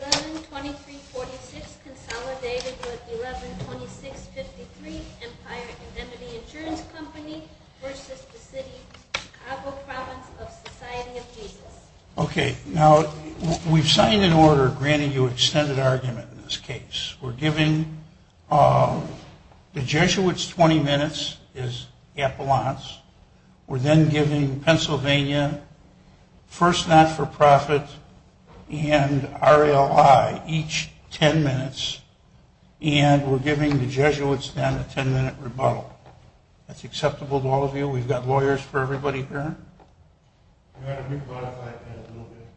11-23-46 Consolidated with 11-26-53 Empire Indemnity Insurance Company v. The City of Chicago Province of Society of Jesus Okay, now we've signed an order granting you extended argument in this case. We're giving the Jesuits 20 minutes as 10 minutes and we're giving the Jesuits then a 10 minute rebuttal. That's acceptable to all of you? We've got lawyers for everybody here? We're going to re-quantify it in a little bit.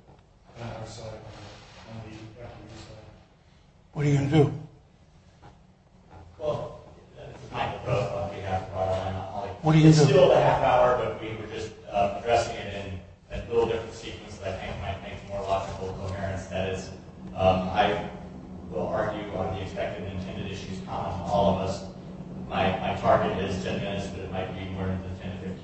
What are you going to do? Well, this is Michael Grose on behalf of Rhode Island Law. This is still a half hour, but we were just addressing it in a little different sequence that I think might make more logical coherence. That is, I will argue on the expected and intended issues common to all of us. My target is 10 minutes, but it might be more than 10 to 15 minutes.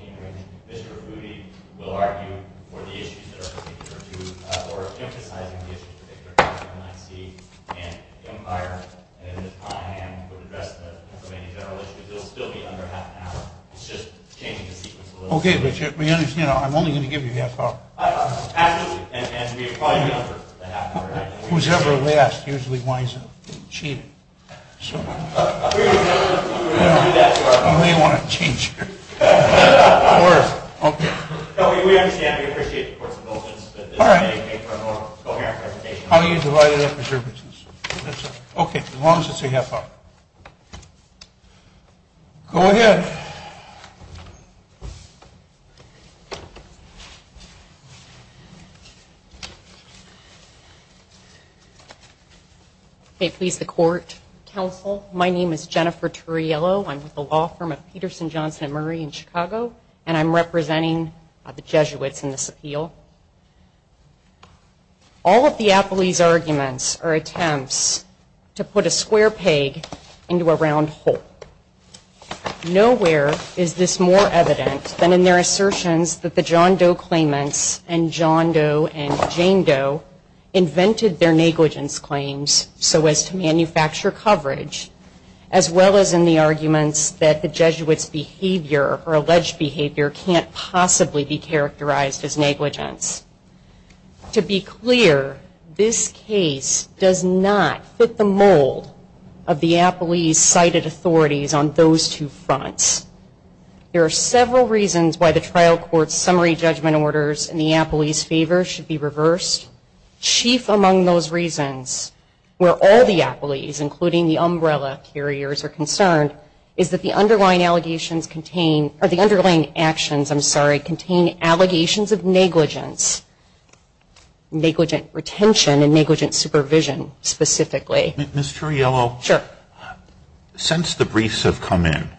Okay, but I'm only going to give you half an hour. Who's ever last usually winds up cheating. You may want to change your words. No, we understand and we appreciate the court's indulgence, but this may make for a more coherent presentation. Okay, as long as it's a half hour. Go ahead. May it please the court, counsel, my name is Jennifer Turriello. I'm with the law firm of Peterson, Johnson & Murray in Chicago and I'm representing the Jesuits in this appeal. All of the appellee's arguments are attempts to put a square peg into a round hole. Nowhere is this more evident than in their assertions that the John Doe claimants and John Doe and Jane Doe invented their negligence claims so as to manufacture coverage as well as in the arguments that the Jesuits' behavior or alleged behavior can't possibly be characterized as negligence. To be clear, this case does not fit the mold of the appellee's cited authorities on those two fronts. There are several reasons why the trial court's summary judgment orders in the appellee's favor should be reversed. Chief among those reasons where all the appellees, including the umbrella carriers, are concerned is that the underlying allegations contain, or the underlying actions, I'm sorry, contain allegations of negligence. Negligent retention and negligent supervision, specifically. Ms. Turriello, since the briefs have come in,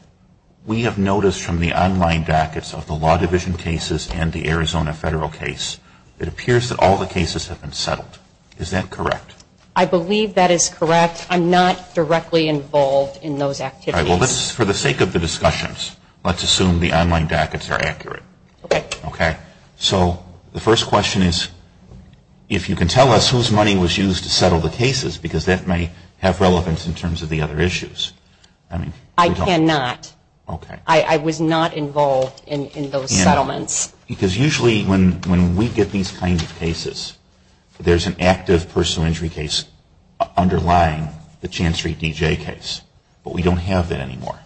we have noticed from the online dockets of the law division cases and the Arizona federal case, it appears that all the cases have been settled. Is that correct? I believe that is correct. I'm not directly involved in those activities. All right. Well, for the sake of the discussions, let's assume the online dockets are accurate. So the first question is, if you can tell us whose money was used to settle the cases, because that may have relevance in terms of the other issues. I cannot. I was not involved in those settlements. Because usually when we get these kinds of cases, there's an active personal injury case underlying the Chan Street DJ case. But we don't have that anymore.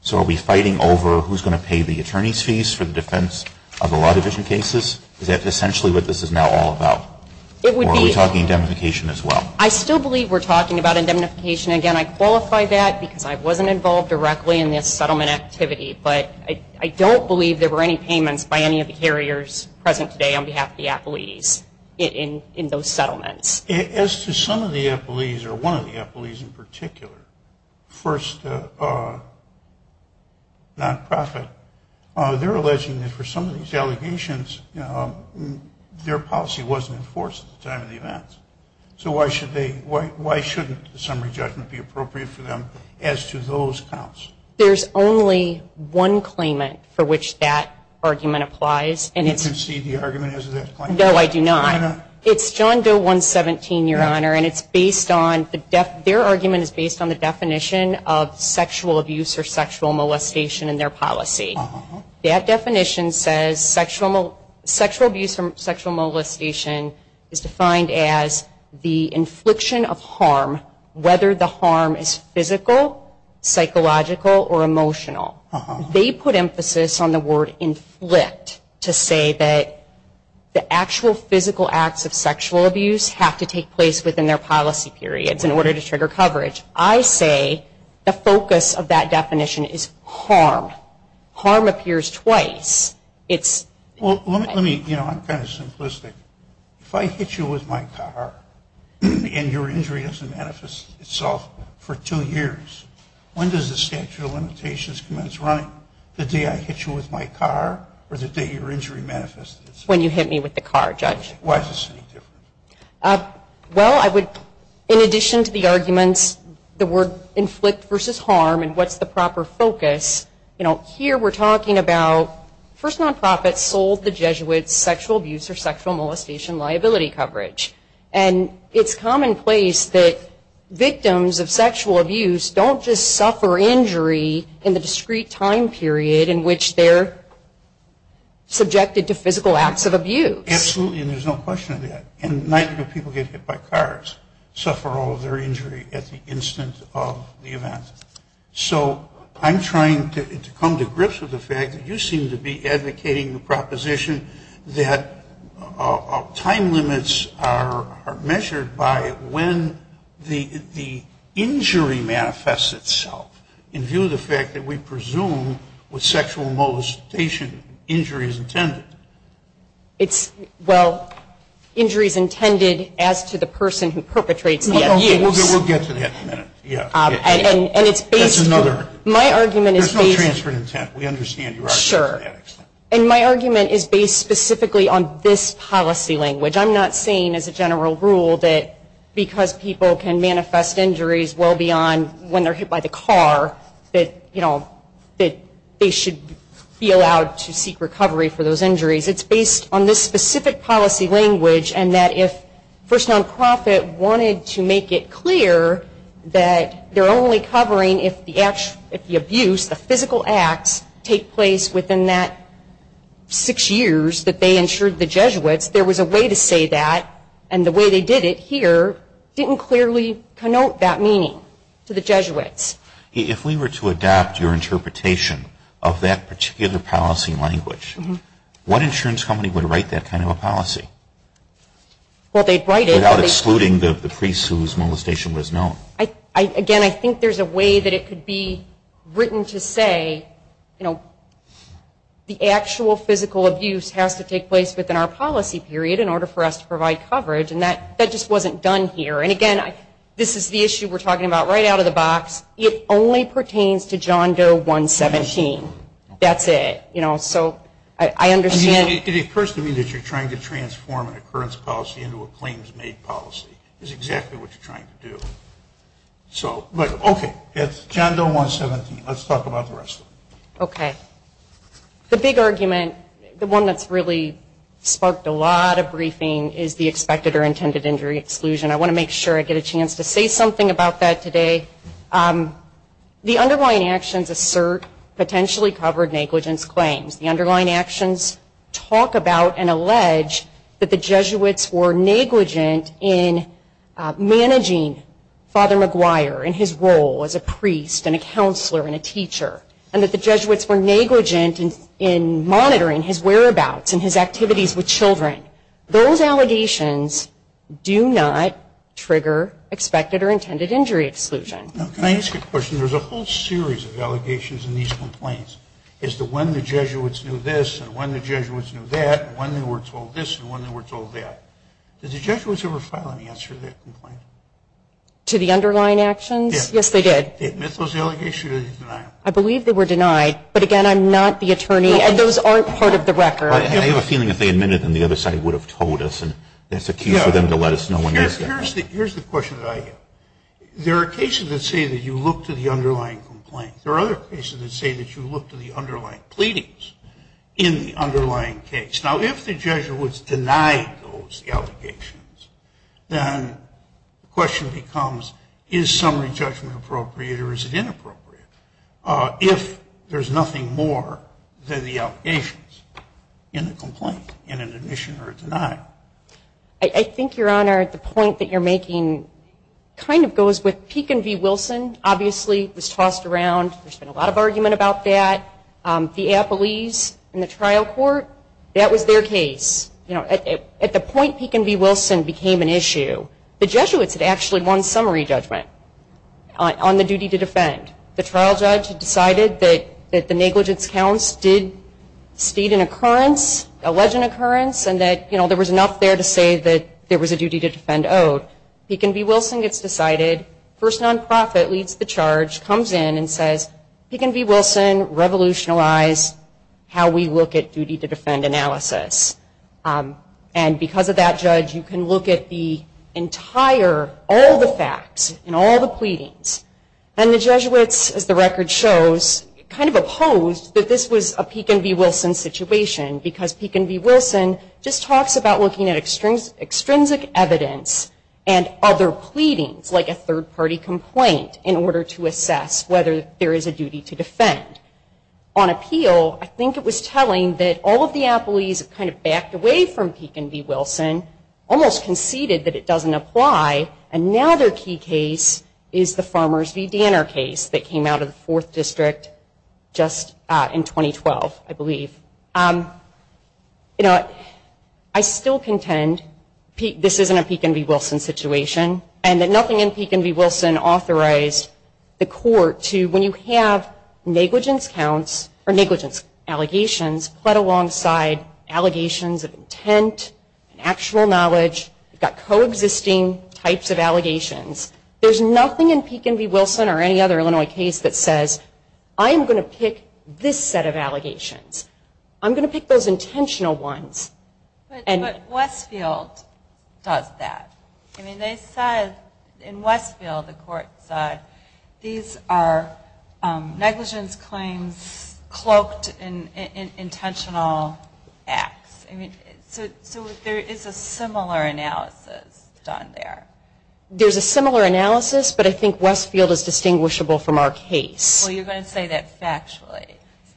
So are we fighting over who's going to pay the attorney's fees for the defense of the law division cases? Is that essentially what this is now all about? Or are we talking indemnification as well? I still believe we're talking about indemnification. Again, I qualify that because I wasn't involved directly in this settlement activity. But I don't believe there were any payments by any of the carriers present today on behalf of the appellees in those settlements. As to some of the appellees, or one of the appellees in particular, first non-profit, they're alleging that for some of these allegations, their policy wasn't enforced at the time of the event. So why shouldn't the summary judgment be appropriate for them as to those counts? There's only one claimant for which that argument applies. Do you concede the argument as to that claim? No, I do not. It's John Doe 117, Your Honor, and their argument is based on the definition of sexual abuse or sexual molestation in their policy. That definition says sexual abuse or sexual molestation is defined as the infliction of harm, whether the harm is physical, psychological, or emotional. They put emphasis on the word inflict to say that the actual physical acts of sexual abuse have to take place within their policy periods in order to trigger coverage. I say the focus of that definition is harm. Harm appears twice. Well, let me, you know, I'm kind of simplistic. If I hit you with my car and your injury doesn't manifest itself for two years, when does the statute of limitations commence running? The day I hit you with my car or the day your injury manifests itself? When you hit me with the car, Judge. Why is this any different? Well, I would, in addition to the arguments, the word inflict versus harm and what's the proper focus, you know, here we're talking about first nonprofits sold the Jesuits sexual abuse or sexual molestation liability coverage. And it's commonplace that victims of sexual abuse don't just suffer injury in the discrete time period in which they're subjected to physical acts of abuse. Absolutely, and there's no question of that. And neither do people get hit by cars, suffer all of their injury at the instant of the event. So I'm trying to come to grips with the fact that you seem to be advocating the proposition that time limits are measured by when the injury manifests itself in view of the fact that we presume with sexual molestation injury is intended. It's, well, injury is intended as to the person who perpetrates the abuse. We'll get to that in a minute. That's another. There's no transfer of intent. We understand your argument to that extent. And my argument is based specifically on this policy language. I'm not saying as a general rule that because people can manifest injuries well beyond when they're hit by the car that, you know, that they should be allowed to seek recovery for those injuries. It's based on this specific policy language and that if First Nonprofit wanted to make it clear that they're only covering if the abuse, the physical acts, take place within that six years that they insured the Jesuits, there was a way to say that. And the way they did it here didn't clearly connote that meaning to the Jesuits. If we were to adopt your interpretation of that particular policy language, what insurance company would write that kind of a policy? Without excluding the priest whose molestation was known. Again, I think there's a way that it could be written to say, you know, the actual physical abuse has to take place within our policy period in order for us to provide coverage. And that just wasn't done here. And again, this is the issue we're talking about right out of the box. It only pertains to John Doe 117. That's it. You know, so I understand. It occurs to me that you're trying to transform an occurrence policy into a claims-made policy. That's exactly what you're trying to do. So, but okay, it's John Doe 117. Let's talk about the rest of it. Okay. The big argument, the one that's really sparked a lot of briefing is the expected or intended injury exclusion. I want to make sure I get a chance to say something about that today. The underlying actions assert potentially covered negligence claims. The underlying actions talk about and allege that the Jesuits were negligent in managing Father Maguire in his role as a priest and a counselor and a teacher. And that the Jesuits were negligent in monitoring his whereabouts and his activities with children. Those allegations do not trigger expected or intended injury exclusion. Now, can I ask you a question? There's a whole series of allegations in these complaints as to when the Jesuits knew this and when the Jesuits knew that and when they were told this and when they were told that. Did the Jesuits ever file an answer to that complaint? To the underlying actions? Yes, they did. I believe they were denied. But again, I'm not the attorney and those aren't part of the record. I have a feeling that they admitted and the other side would have told us and that's a key for them to let us know when they're done. Here's the question that I get. There are cases that say that you look to the underlying complaints. There are other cases that say that you look to the underlying pleadings in the underlying case. Now, if the Jesuit was denied those allegations, then the question becomes, is summary judgment appropriate or is it inappropriate? If there's nothing more than the allegations in the complaint, in an admission or a denial. I think, Your Honor, the point that you're making kind of goes with Peek and V. Wilson. Obviously, it was tossed around. There's been a lot of argument about that. The appellees in the trial court, that was their case. At the point Peek and V. Wilson became an issue, the Jesuits had actually won summary judgment on the duty to defend. The trial judge had decided that the negligence counts did state an occurrence, alleged an occurrence, and that there was enough there to say that there was a duty to defend. Peek and V. Wilson gets decided. First non-profit leads the charge, comes in and says, Peek and V. Wilson, Revolutional Outlaws. That's how we look at duty to defend analysis. Because of that, Judge, you can look at the entire, all the facts in all the pleadings. The Jesuits, as the record shows, kind of opposed that this was a Peek and V. Wilson situation. Because Peek and V. Wilson just talks about looking at extrinsic evidence and other pleadings, like a third-party complaint, in order to assess whether there is a duty to defend. On appeal, I think it was telling that all of the appellees kind of backed away from Peek and V. Wilson, almost conceded that it doesn't apply. And now their key case is the Farmers v. Danner case that came out of the 4th District just in 2012, I believe. I still contend this isn't a Peek and V. Wilson situation, and that nothing in Peek and V. Wilson authorized the court to, when you have negligence counts, or negligence allegations, but alongside allegations of intent and actual knowledge, you've got coexisting types of allegations. There's nothing in Peek and V. Wilson or any other Illinois case that says, I'm going to pick this set of allegations. I'm going to pick those intentional ones. But Westfield does that. I mean, they said, in Westfield, the court said, these are negligence claims cloaked in intentional acts. So there is a similar analysis done there. There's a similar analysis, but I think Westfield is distinguishable from our case. Well, you're going to say that factually.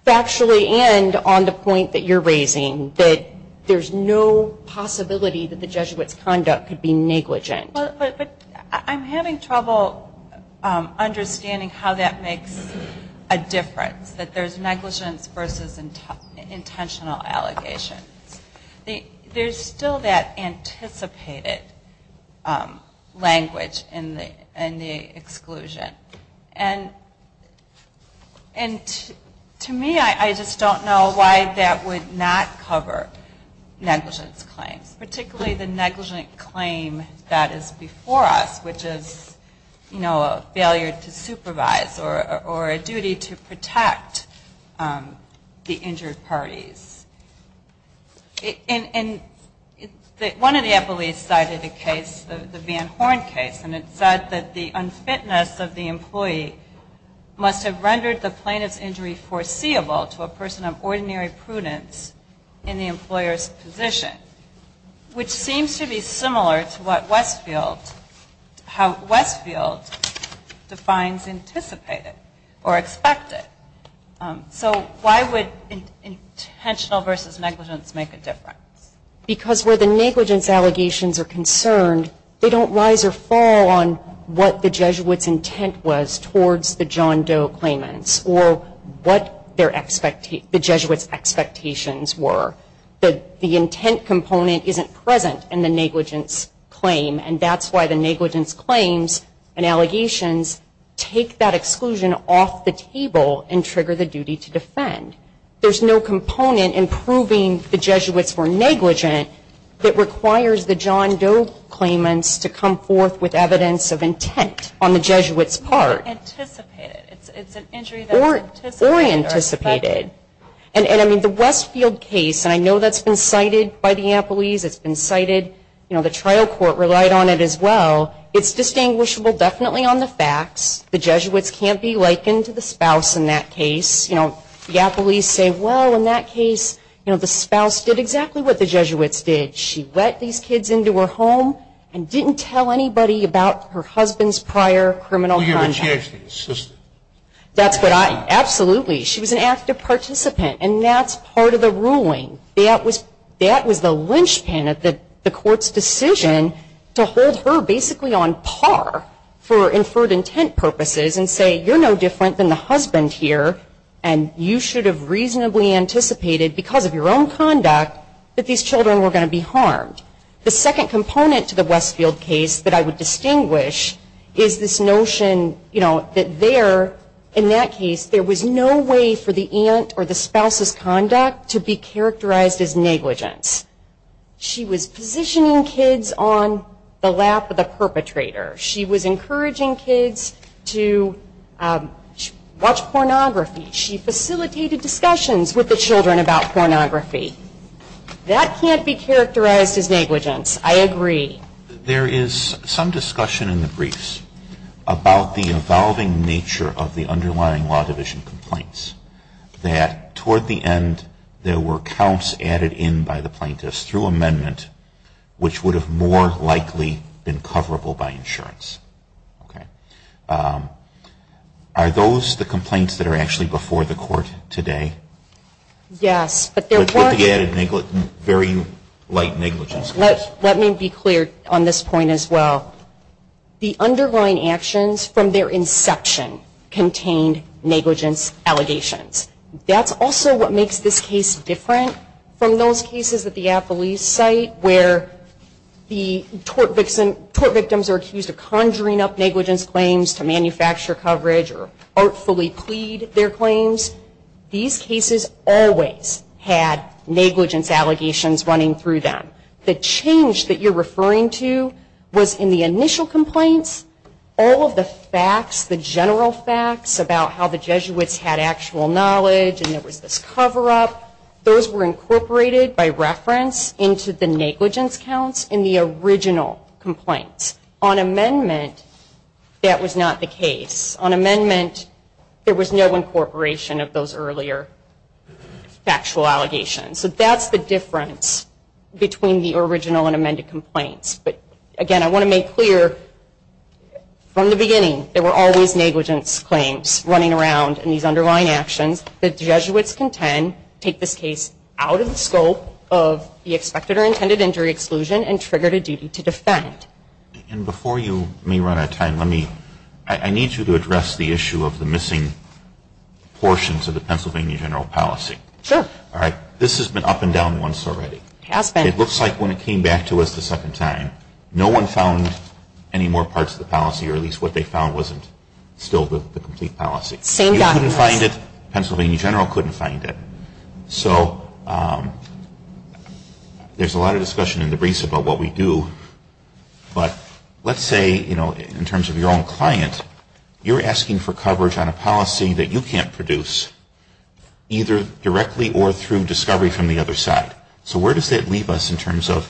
Factually and on the point that you're raising, that there's no possibility that the Jesuit's conduct could be negligent. But I'm having trouble understanding how that makes a difference, that there's negligence versus intentional allegations. There's still that anticipated language in the exclusion. And to me, I just don't know why that would not cover negligence claims. Particularly the negligent claim that is before us, which is, you know, a failure to supervise or a duty to protect the injured parties. And one of the appellees cited a case, the Van Horn case, and it said that the unfitness of the employee must have rendered the plaintiff's injury foreseeable to a person of ordinary prudence in the employer's position. Which seems to be similar to what Westfield, how Westfield defines anticipated or expected. So why would intentional versus negligence make a difference? Because where the negligence allegations are concerned, they don't rise or fall on what the Jesuit's intent was towards the John Doe claimants or what the Jesuit's expectations were. The intent component isn't present in the negligence claim, and that's why the negligence claims and allegations take that role and trigger the duty to defend. There's no component in proving the Jesuits were negligent that requires the John Doe claimants to come forth with evidence of intent on the Jesuit's part. Or anticipated. And I mean, the Westfield case, and I know that's been cited by the appellees, it's been cited, you know, the trial court relied on it as well, it's distinguishable definitely on the facts, the Jesuits can't be likened to the spouse in that case. You know, the appellees say, well, in that case, you know, the spouse did exactly what the Jesuits did. She let these kids into her home and didn't tell anybody about her husband's prior criminal conduct. Who gave her a chance to be an assistant? That's what I, absolutely, she was an active participant, and that's part of the ruling. That was the linchpin of the court's decision to hold her basically on par for inferred intent purposes and say, you're no different than the husband here, and you should have reasonably anticipated because of your own conduct that these children were going to be harmed. The second component to the Westfield case that I would distinguish is this notion, you know, that there, in that case, there was no way for the aunt or the spouse's conduct to be characterized as negligence. She was positioning kids on the lap of the perpetrator, she was encouraging kids to watch pornography, she facilitated discussions with the children about pornography, that can't be characterized as negligence, I agree. There is some discussion in the briefs about the evolving nature of the underlying law division complaints. That, toward the end, there were counts added in by the plaintiffs through amendment, which would have more likely been coverable by insurance. Are those the complaints that are actually before the court today? Yes, but there were. Let me be clear on this point as well. That's also what makes this case different from those cases at the Apple East site where the tort victims are accused of conjuring up negligence claims to manufacture coverage or artfully plead their claims. These cases always had negligence allegations running through them. The change that you're referring to was in the initial complaints, all of the facts, the general facts about how the Jesuits had actual knowledge and there was this cover-up, those were incorporated by reference into the negligence counts in the original complaints. On amendment, that was not the case. On amendment, there was no incorporation of those earlier factual allegations. So that's the difference between the original and amended complaints. But again, I want to make clear, from the beginning, there were always negligence claims running around in these underlying actions. The Jesuits contend take this case out of the scope of the expected or intended injury exclusion and trigger a duty to defend. And before you run out of time, I need you to address the issue of the missing portions of the Pennsylvania general policy. Sure. This has been up and down once already. It looks like when it came back to us the second time, no one found any more parts of the policy or at least what they found wasn't still the complete policy. You couldn't find it, Pennsylvania general couldn't find it. So there's a lot of discussion in the briefs about what we do, but let's say, you know, in terms of your own client, you're asking for through discovery from the other side. So where does that leave us in terms of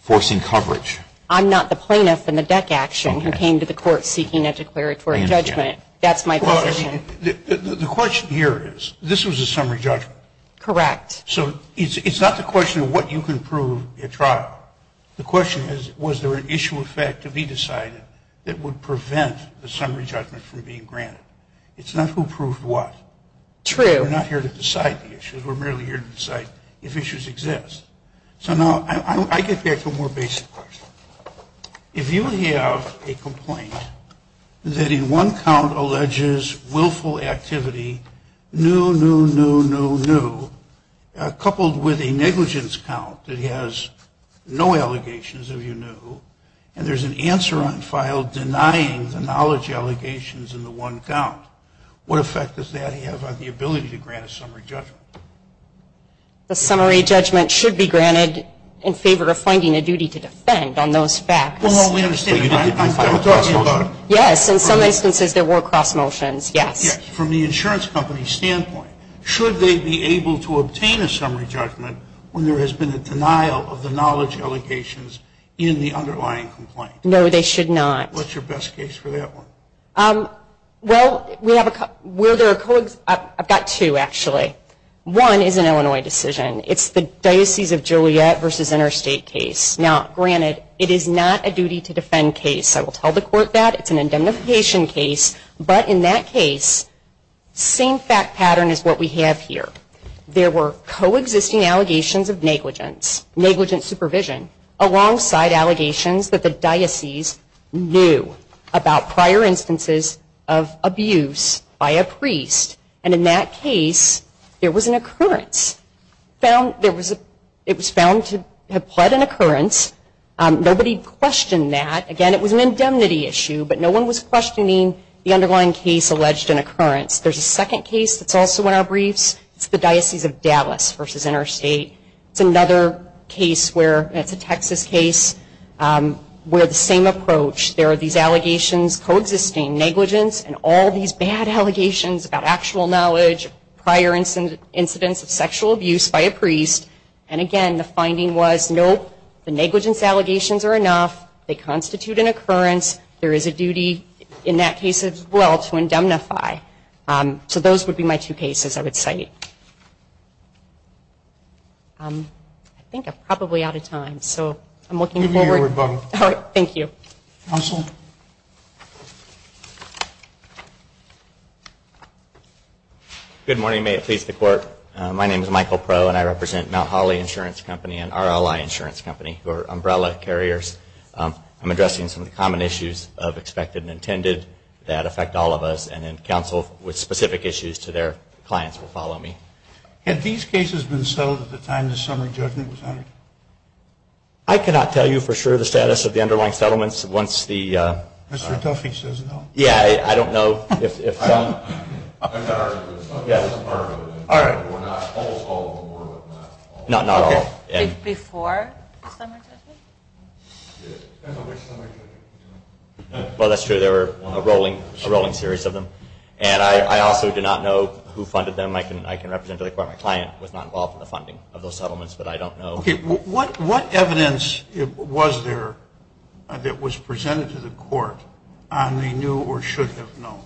forcing coverage? I'm not the plaintiff in the DEC action who came to the court seeking a declaratory judgment. That's my position. The question here is, this was a summary judgment. Correct. So it's not the question of what you can prove at trial. The question is, was there an issue of fact to be decided that would prevent the summary judgment from being granted? It's not who proved what. True. We're not here to decide the issues. We're merely here to decide if issues exist. So now, I get back to a more basic question. If you have a complaint that in one count alleges willful activity, no, no, no, no, no, coupled with a negligence count that has no allegations of you knew, and there's an answer on file denying the knowledge allegations in the one count. What effect does that have on the ability to grant a summary judgment? The summary judgment should be granted in favor of finding a duty to defend on those facts. Yes, in some instances there were cross motions, yes. From the insurance company's standpoint, should they be able to obtain a summary judgment when there has been a denial of the knowledge allegations in the underlying complaint? No, they should not. What's your best case for that one? I've got two, actually. One is an Illinois decision. It's the Diocese of Juliet versus Interstate case. Now, granted, it is not a duty to defend case. I will tell the court that. It's an indemnification case. But in that case, same fact pattern is what we have here. There were coexisting allegations of negligence, negligence supervision, alongside allegations that the diocese knew that there was negligence. There was a case that the diocese knew about prior instances of abuse by a priest, and in that case, there was an occurrence. It was found to have pled an occurrence. Nobody questioned that. Again, it was an indemnity issue, but no one was questioning the underlying case alleged an occurrence. There's a second case that's also in our briefs. It's the Diocese of Dallas versus Interstate. It's another case where, it's a Texas case, where the same approach. These allegations, coexisting negligence, and all these bad allegations about actual knowledge, prior incidents of sexual abuse by a priest. And again, the finding was, nope, the negligence allegations are enough. They constitute an occurrence. There is a duty in that case as well to indemnify. So those would be my two cases I would cite. I think I'm probably out of time. Thank you. Good morning. May it please the Court. My name is Michael Proe, and I represent Mount Holly Insurance Company and RLI Insurance Company, who are umbrella carriers. I'm addressing some of the common issues of expected and intended that affect all of us, and then counsel with specific issues to their clients will follow me. Had these cases been settled at the time the summer judgment was honored? I cannot tell you for sure the status of the underlying settlements once the... Mr. Duffy says no. I'm sorry, but the summer judgment wasn't part of it. Before the summer judgment? Well, that's true. There were a rolling series of them, and I also do not know who funded them. I can represent to the Court my client was not involved in the funding of those settlements, but I don't know. What evidence was there that was presented to the Court on the new or should have known,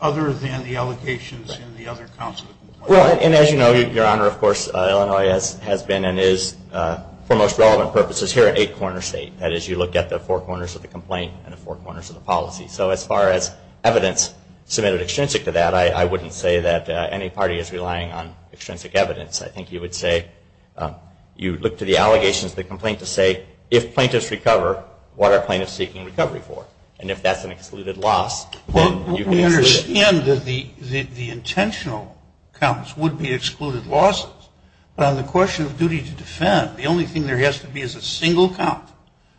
other than the allegations in the other counsel? Well, and as you know, Your Honor, of course, Illinois has been and is, for most relevant purposes, here an eight-corner state. That is, you look at the four corners of the complaint and the four corners of the policy. So as far as evidence submitted extrinsic to that, I wouldn't say that any party is relying on extrinsic evidence. I think you would say, you look to the allegations of the complaint to say, if plaintiffs recover, what are plaintiffs seeking recovery for? And if that's an excluded loss, then you can answer that. Well, we understand that the intentional counts would be excluded losses, but on the question of duty to defend, the only thing there has to be is a single count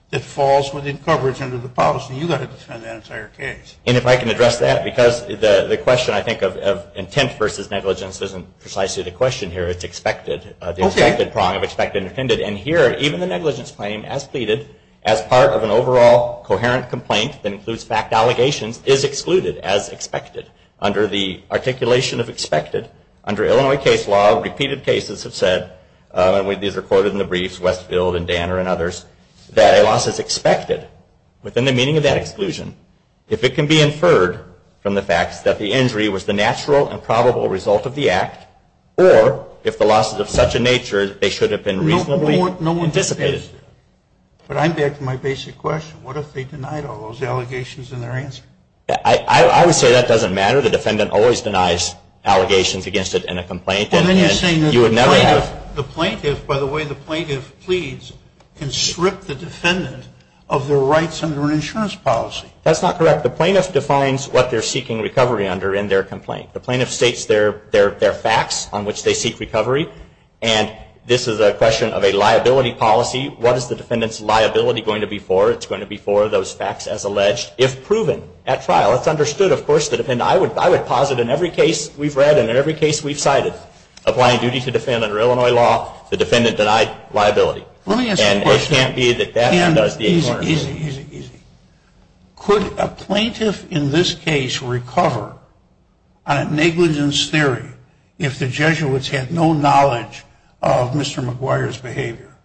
that falls within coverage under the policy. You've got to defend that entire case. And if I can address that, because the question, I think, of intent versus negligence isn't precisely the question here. It's expected. The expected prong of expected and intended. And here, even the negligence claim, as pleaded, as part of an overall coherent complaint that includes fact allegations, is excluded as expected. Under the articulation of expected, under Illinois case law, repeated cases have said, and these are quoted in the briefs, Westfield and Danner and others, that a loss is expected within the meaning of that exclusion. If it can be inferred from the facts that the injury was the natural and probable result of the act, or if the loss is of such a nature, they should have been reasonably anticipated. But I'm back to my basic question. What if they denied all those allegations in their answer? I would say that doesn't matter. The defendant always denies allegations against it in a complaint. And then you're saying that the plaintiff, by the way the plaintiff pleads, can strip the defendant of their rights under an insurance policy. That's not correct. The plaintiff defines what they're seeking recovery under in their complaint. The plaintiff states their facts on which they seek recovery. And this is a question of a liability policy. What is the defendant's liability going to be for? It's going to be for those facts as alleged, if proven at trial. That's understood, of course. I would posit in every case we've read and in every case we've cited, applying duty to defend under Illinois law, the defendant denied liability. Let me ask you a question. Easy, easy. Could a plaintiff in this case recover on a negligence theory if the Jesuits had no knowledge of Mr. McGuire's behavior?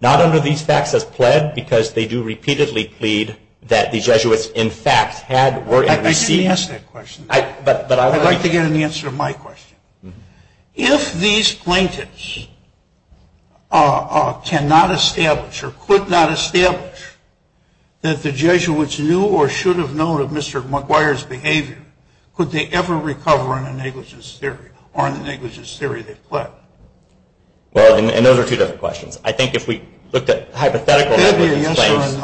Not under these facts as pled, because they do repeatedly plead that the Jesuits, in fact, had or were in receipt. I'd like to get an answer to my question. If these plaintiffs cannot establish or could not establish that the Jesuits knew or should have known of Mr. McGuire's behavior, could they ever recover on a negligence theory or on the negligence theory they've pled? Well, and those are two different questions. I think if we looked at hypothetical negligence claims.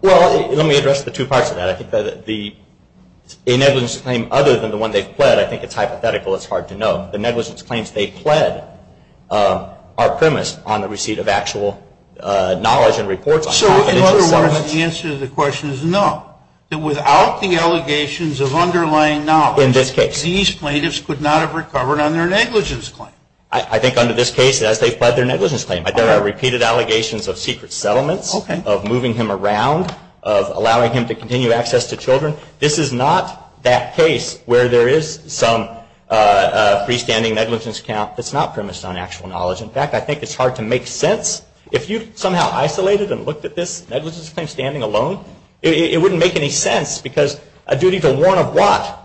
Well, let me address the two parts of that. I think the negligence claim, other than the one they've pled, I think it's hypothetical, it's hard to know. The negligence claims they've pled are premised on the receipt of actual knowledge and reports. So in other words, the answer to the question is no, that without the allegations of underlying knowledge, these plaintiffs could not have recovered on their negligence claim. I think under this case, as they've pled their negligence claim, there are repeated allegations of secret settlements, of moving him around, of allowing him to continue access to children. This is not that case where there is some freestanding negligence count that's not premised on actual knowledge. In fact, I think it's hard to make sense. If you somehow isolated and looked at this negligence claim standing alone, it wouldn't make any sense because a duty to warn of what?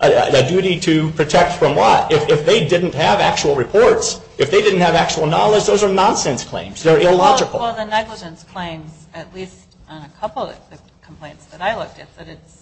A duty to protect from what? If they didn't have actual reports, if they didn't have actual knowledge, those are nonsense claims. They're illogical. Well, the negligence claims, at least on a couple of the complaints that I looked at, said it's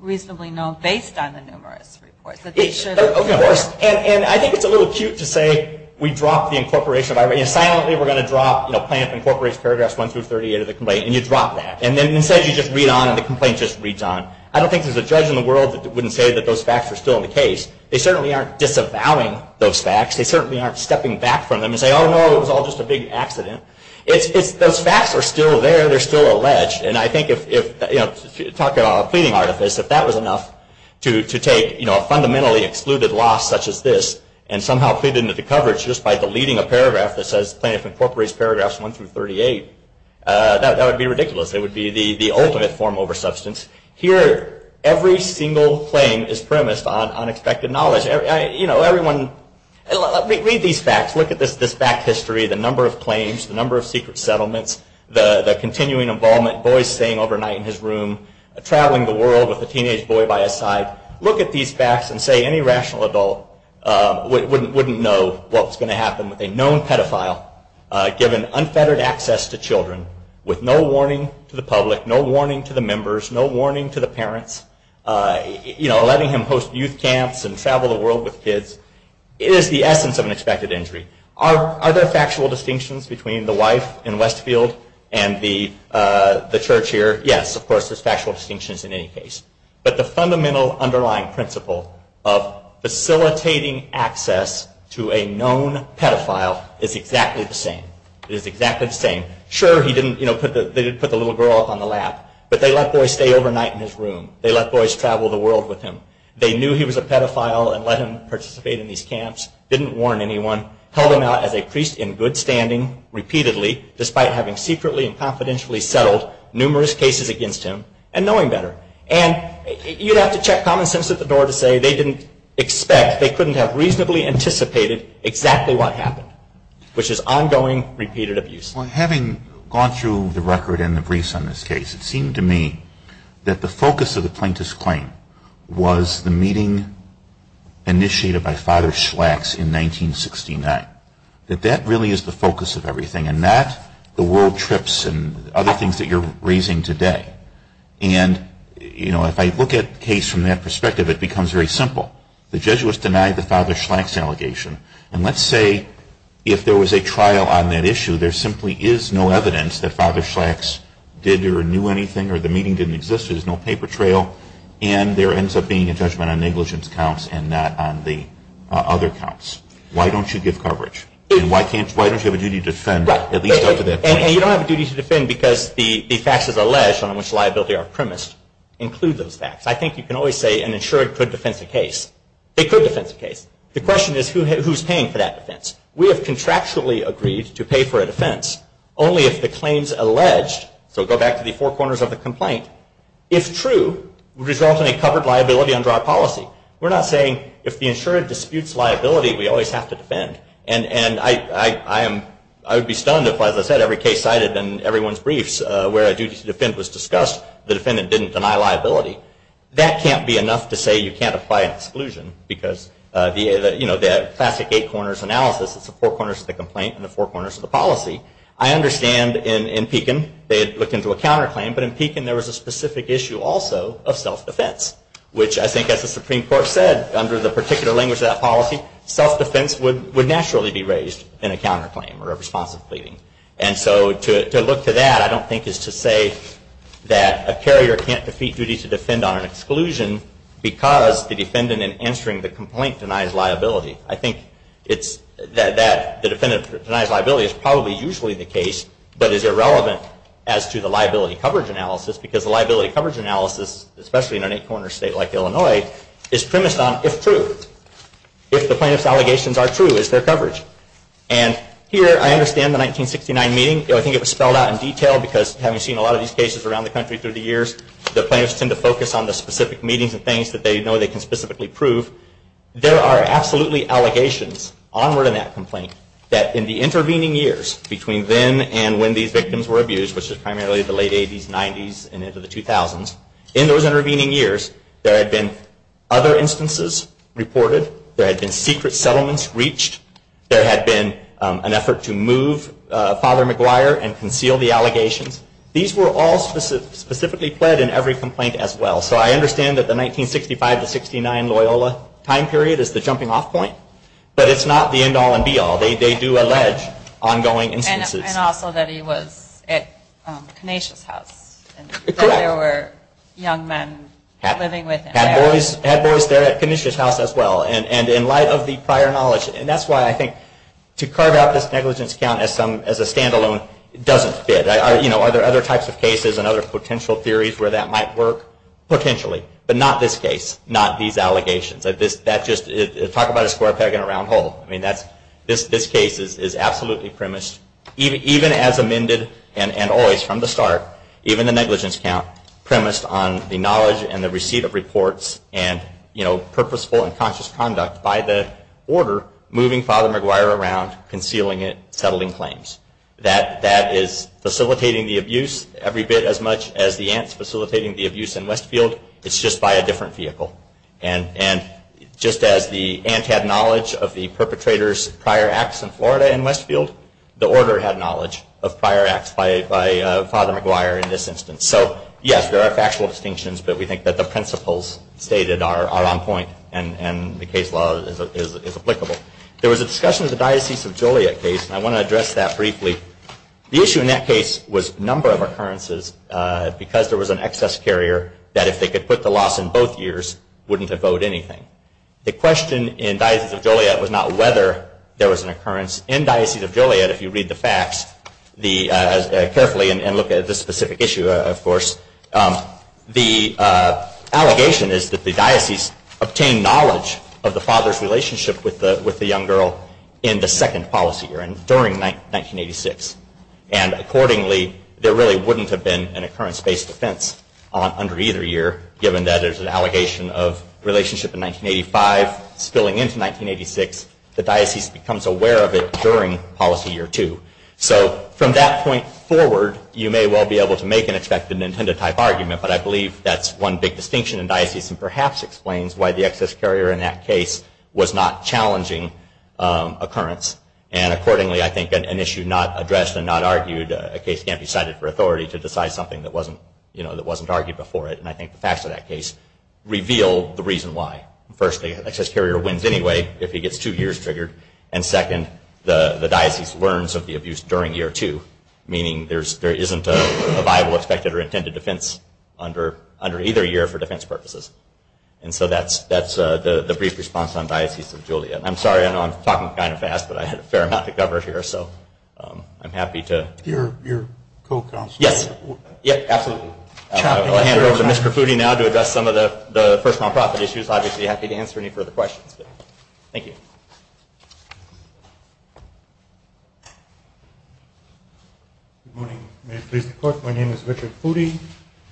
reasonably known based on the numerous reports. And I think it's a little cute to say we drop the incorporation. Silently we're going to drop Plaintiff Incorporates paragraphs 1 through 38 of the complaint, and you drop that. And then instead you just read on and the complaint just reads on. I don't think there's a judge in the world that wouldn't say that those facts are still in the case. They certainly aren't disavowing those facts. They certainly aren't stepping back from them and saying, oh no, it was all just a big accident. Those facts are still there. They're still alleged. And I think if, talking about a pleading artifice, if that was enough to take a fundamentally excluded loss such as this and somehow plead into the coverage just by deleting a paragraph that says Plaintiff Incorporates paragraphs 1 through 38, that would be ridiculous. It would be the ultimate form over substance. Here, every single claim is premised on unexpected knowledge. Read these facts. Look at this back history, the number of claims, the number of secret settlements, the continuing involvement, boys staying overnight in his room, traveling the world with a teenage boy by his side. Look at these facts and say any rational adult wouldn't know what was going to happen with a known pedophile given unfettered access to children with no warning to the public, no warning to the members, no warning to the parents, letting him host youth camps and travel the world with kids. It is the essence of an expected injury. Are there factual distinctions between the wife in Westfield and the church here? Yes, of course, there's factual distinctions in any case. But the fundamental underlying principle of facilitating access to a known pedophile is exactly the same. Sure, they did put the little girl up on the lap, but they let boys stay overnight in his room. They let boys travel the world with him. They knew he was a pedophile and let him participate in these camps, didn't warn anyone, held him out as a priest in good standing repeatedly, despite having secretly and confidentially settled numerous cases against him and knowing better. And you'd have to check common sense at the door to say they didn't expect, they couldn't have reasonably anticipated exactly what happened, which is ongoing, repeated abuse. Well, having gone through the record and the briefs on this case, it seemed to me that the focus of the plaintiff's claim was the meeting initiated by Father Schlax in 1969, that that really is the focus of everything and not the world trips and other things that you're raising today. And if I look at the case from that perspective, it becomes very simple. The Jesuits denied the Father Schlax allegation. And let's say if there was a trial on that issue, there simply is no evidence that Father Schlax did or knew anything or the meeting didn't exist. There's no paper trail. And there ends up being a judgment on negligence counts and not on the other counts. Why don't you give coverage? And why don't you have a duty to defend at least up to that point? And you don't have a duty to defend because the facts as alleged on which liability are premised include those facts. I think you can always say an insured could defense a case. They could defense a case. The question is who's paying for that defense? We have contractually agreed to pay for a defense only if the claims alleged, so go back to the four corners of the complaint, if true, result in a covered liability under our policy. We're not saying if the insured disputes liability, we always have to defend. And I would be stunned if, as I said, every case cited in everyone's briefs where a duty to defend was discussed, the defendant didn't deny liability. That can't be enough to say you can't apply an exclusion because the classic eight corners analysis, it's the four corners of the complaint and the four corners of the policy. I understand in Pekin they had looked into a counterclaim, but in Pekin there was a specific issue also of self-defense, which I think as the Supreme Court said under the particular language of that policy, self-defense would naturally be raised in a counterclaim or a responsive pleading. And so to look to that I don't think is to say that a carrier can't defeat duty to defend on an exclusion because the defendant in answering the complaint denies liability. I think that the defendant denies liability is probably usually the case, but is irrelevant as to the liability coverage analysis because the liability coverage analysis, especially in an eight corner state like Illinois, is premised on if true. If the plaintiff's allegations are true, is there coverage? And here I understand the 1969 meeting, I think it was spelled out in detail because having seen a lot of these cases around the country through the years, the plaintiffs tend to focus on the specific meetings and things that they know they can specifically prove. There are absolutely allegations onward in that complaint that in the intervening years between then and when these victims were abused, which is primarily the late 80s, 90s, and into the 2000s, in those intervening years there had been other instances reported, there had been secret settlements reached, there had been an effort to move Father McGuire and conceal the allegations. These were all specifically pled in every complaint as well. So I understand that the 1965 to 69 Loyola time period is the jumping off point, but it's not the end all and be all. They do allege ongoing instances. And also that he was at Canisius House and there were young men living with him. Had boys there at Canisius House as well. And in light of the prior knowledge, and that's why I think to carve out this negligence count as a standalone doesn't fit. Are there other types of cases and other potential theories where that might work? Potentially. But not this case, not these allegations. Talk about a square peg in a round hole. This case is absolutely premised, even as amended and always from the start, even the negligence count, premised on the knowledge and the receipt of reports and purposeful and conscious conduct by the order moving Father McGuire around, concealing it, settling claims. That is facilitating the abuse every bit as much as the aunts facilitating the abuse in Westfield, it's just by a different vehicle. And just as the aunt had knowledge of the perpetrator's prior acts in Florida and Westfield, the order had knowledge of prior acts by Father McGuire in this instance. So yes, there are factual distinctions, but we think that the principles stated are on point and the case law is applicable. There was a discussion of the Diocese of Joliet case, and I want to address that briefly. The issue in that case was a number of occurrences, because there was an excess carrier that if they could put the loss in both years, wouldn't have owed anything. The question in Diocese of Joliet was not whether there was an occurrence. In Diocese of Joliet, if you read the facts carefully and look at this specific issue, of course, the allegation is that the diocese obtained knowledge of the father's relationship with the young girl in the second policy year, during 1986. And accordingly, there really wouldn't have been an occurrence-based offense under either year, given that there's an allegation of relationship in 1985 spilling into 1986. The diocese becomes aware of it during policy year two. So from that point forward, you may well be able to make an expected and intended type argument, but I believe that's one big distinction in diocese and perhaps explains why the excess carrier in that case was not challenging occurrence. And accordingly, I think an issue not addressed and not argued, a case can't be cited for authority to decide something that wasn't argued before it. And I think the facts of that case reveal the reason why. Firstly, an excess carrier wins anyway if he gets two years triggered. And second, the diocese learns of the abuse during year two, meaning there isn't a viable expected or intended offense under either year for defense purposes. And so that's the brief response on Diocese of Julia. I'm sorry, I know I'm talking kind of fast, but I had a fair amount to cover here. So I'm happy to... Your co-counselor. Yes, absolutely. I will hand over to Mr. Foody now to address some of the first non-profit issues. Obviously happy to answer any further questions. Thank you. Good morning. May it please the Court, my name is Richard Foody,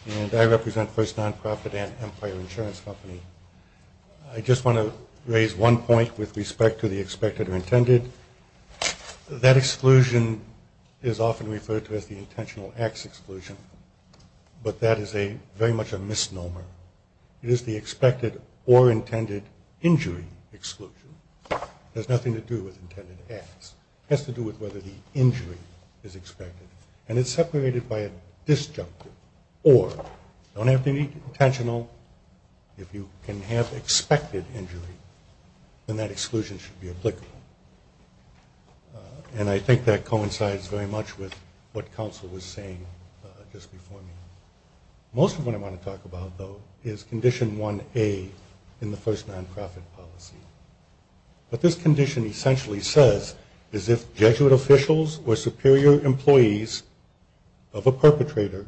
and I represent First Non-Profit and Empire Insurance Company. I just want to raise one point with respect to the expected or intended. That exclusion is often referred to as the intentional acts exclusion, but that is very much a misnomer. It is the expected or intended injury exclusion. It has nothing to do with intended acts. It has to do with whether the injury is expected. And it's separated by a disjunctive, or you don't have to be intentional. If you can have expected injury, then that exclusion should be applicable. And I think that coincides very much with what counsel was saying just before me. Most of what I want to talk about, though, is Condition 1A in the First Non-Profit policy. What this condition essentially says is if Jesuit officials or superior employees of a perpetrator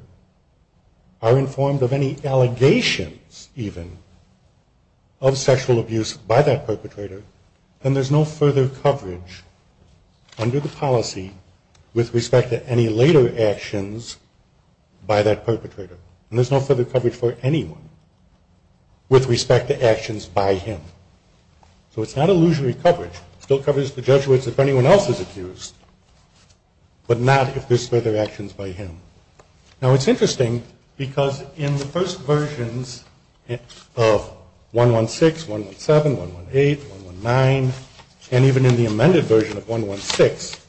are informed of any allegations, even, of sexual abuse by that perpetrator, then there's no further coverage under the policy with respect to any later actions by that perpetrator. And there's no further coverage for anyone with respect to actions by him. So it's not illusory coverage. It still covers the Jesuits if anyone else is accused, but not if there's further actions by him. Now, it's interesting because in the first versions of 116, 117, 118, 119, and even in the amended version of 116,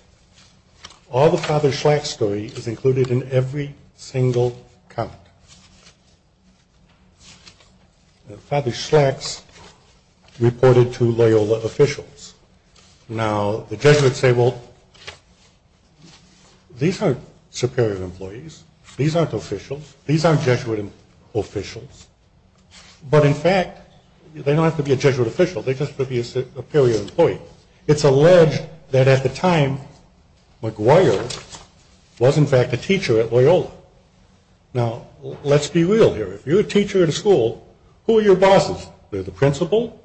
all the Father Schlack's story is included in every single comment. Father Schlack's reported to Loyola officials. Now, the Jesuits say, well, these aren't superior employees. These aren't officials. These aren't Jesuit officials. But, in fact, they don't have to be a Jesuit official. They just have to be a superior employee. It's alleged that at the time, Maguire was, in fact, a teacher at Loyola. Now, let's be real here. If you're a teacher at a school, who are your bosses? They're the principal,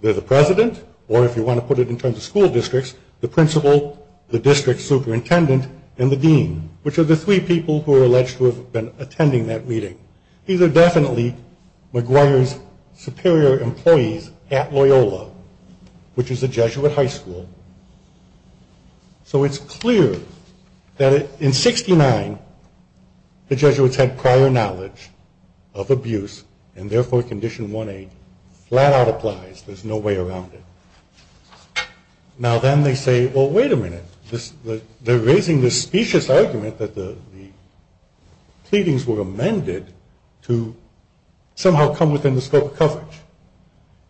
they're the president, or if you want to put it in terms of school districts, the principal, the district superintendent, and the dean, which are the three people who are alleged to have been attending that meeting. These are definitely Maguire's superior employees at Loyola. Which is a Jesuit high school. So it's clear that in 69, the Jesuits had prior knowledge of abuse, and therefore Condition 1A flat out applies. There's no way around it. Now, then they say, well, wait a minute. They're raising this specious argument that the pleadings were amended to somehow come within the scope of coverage.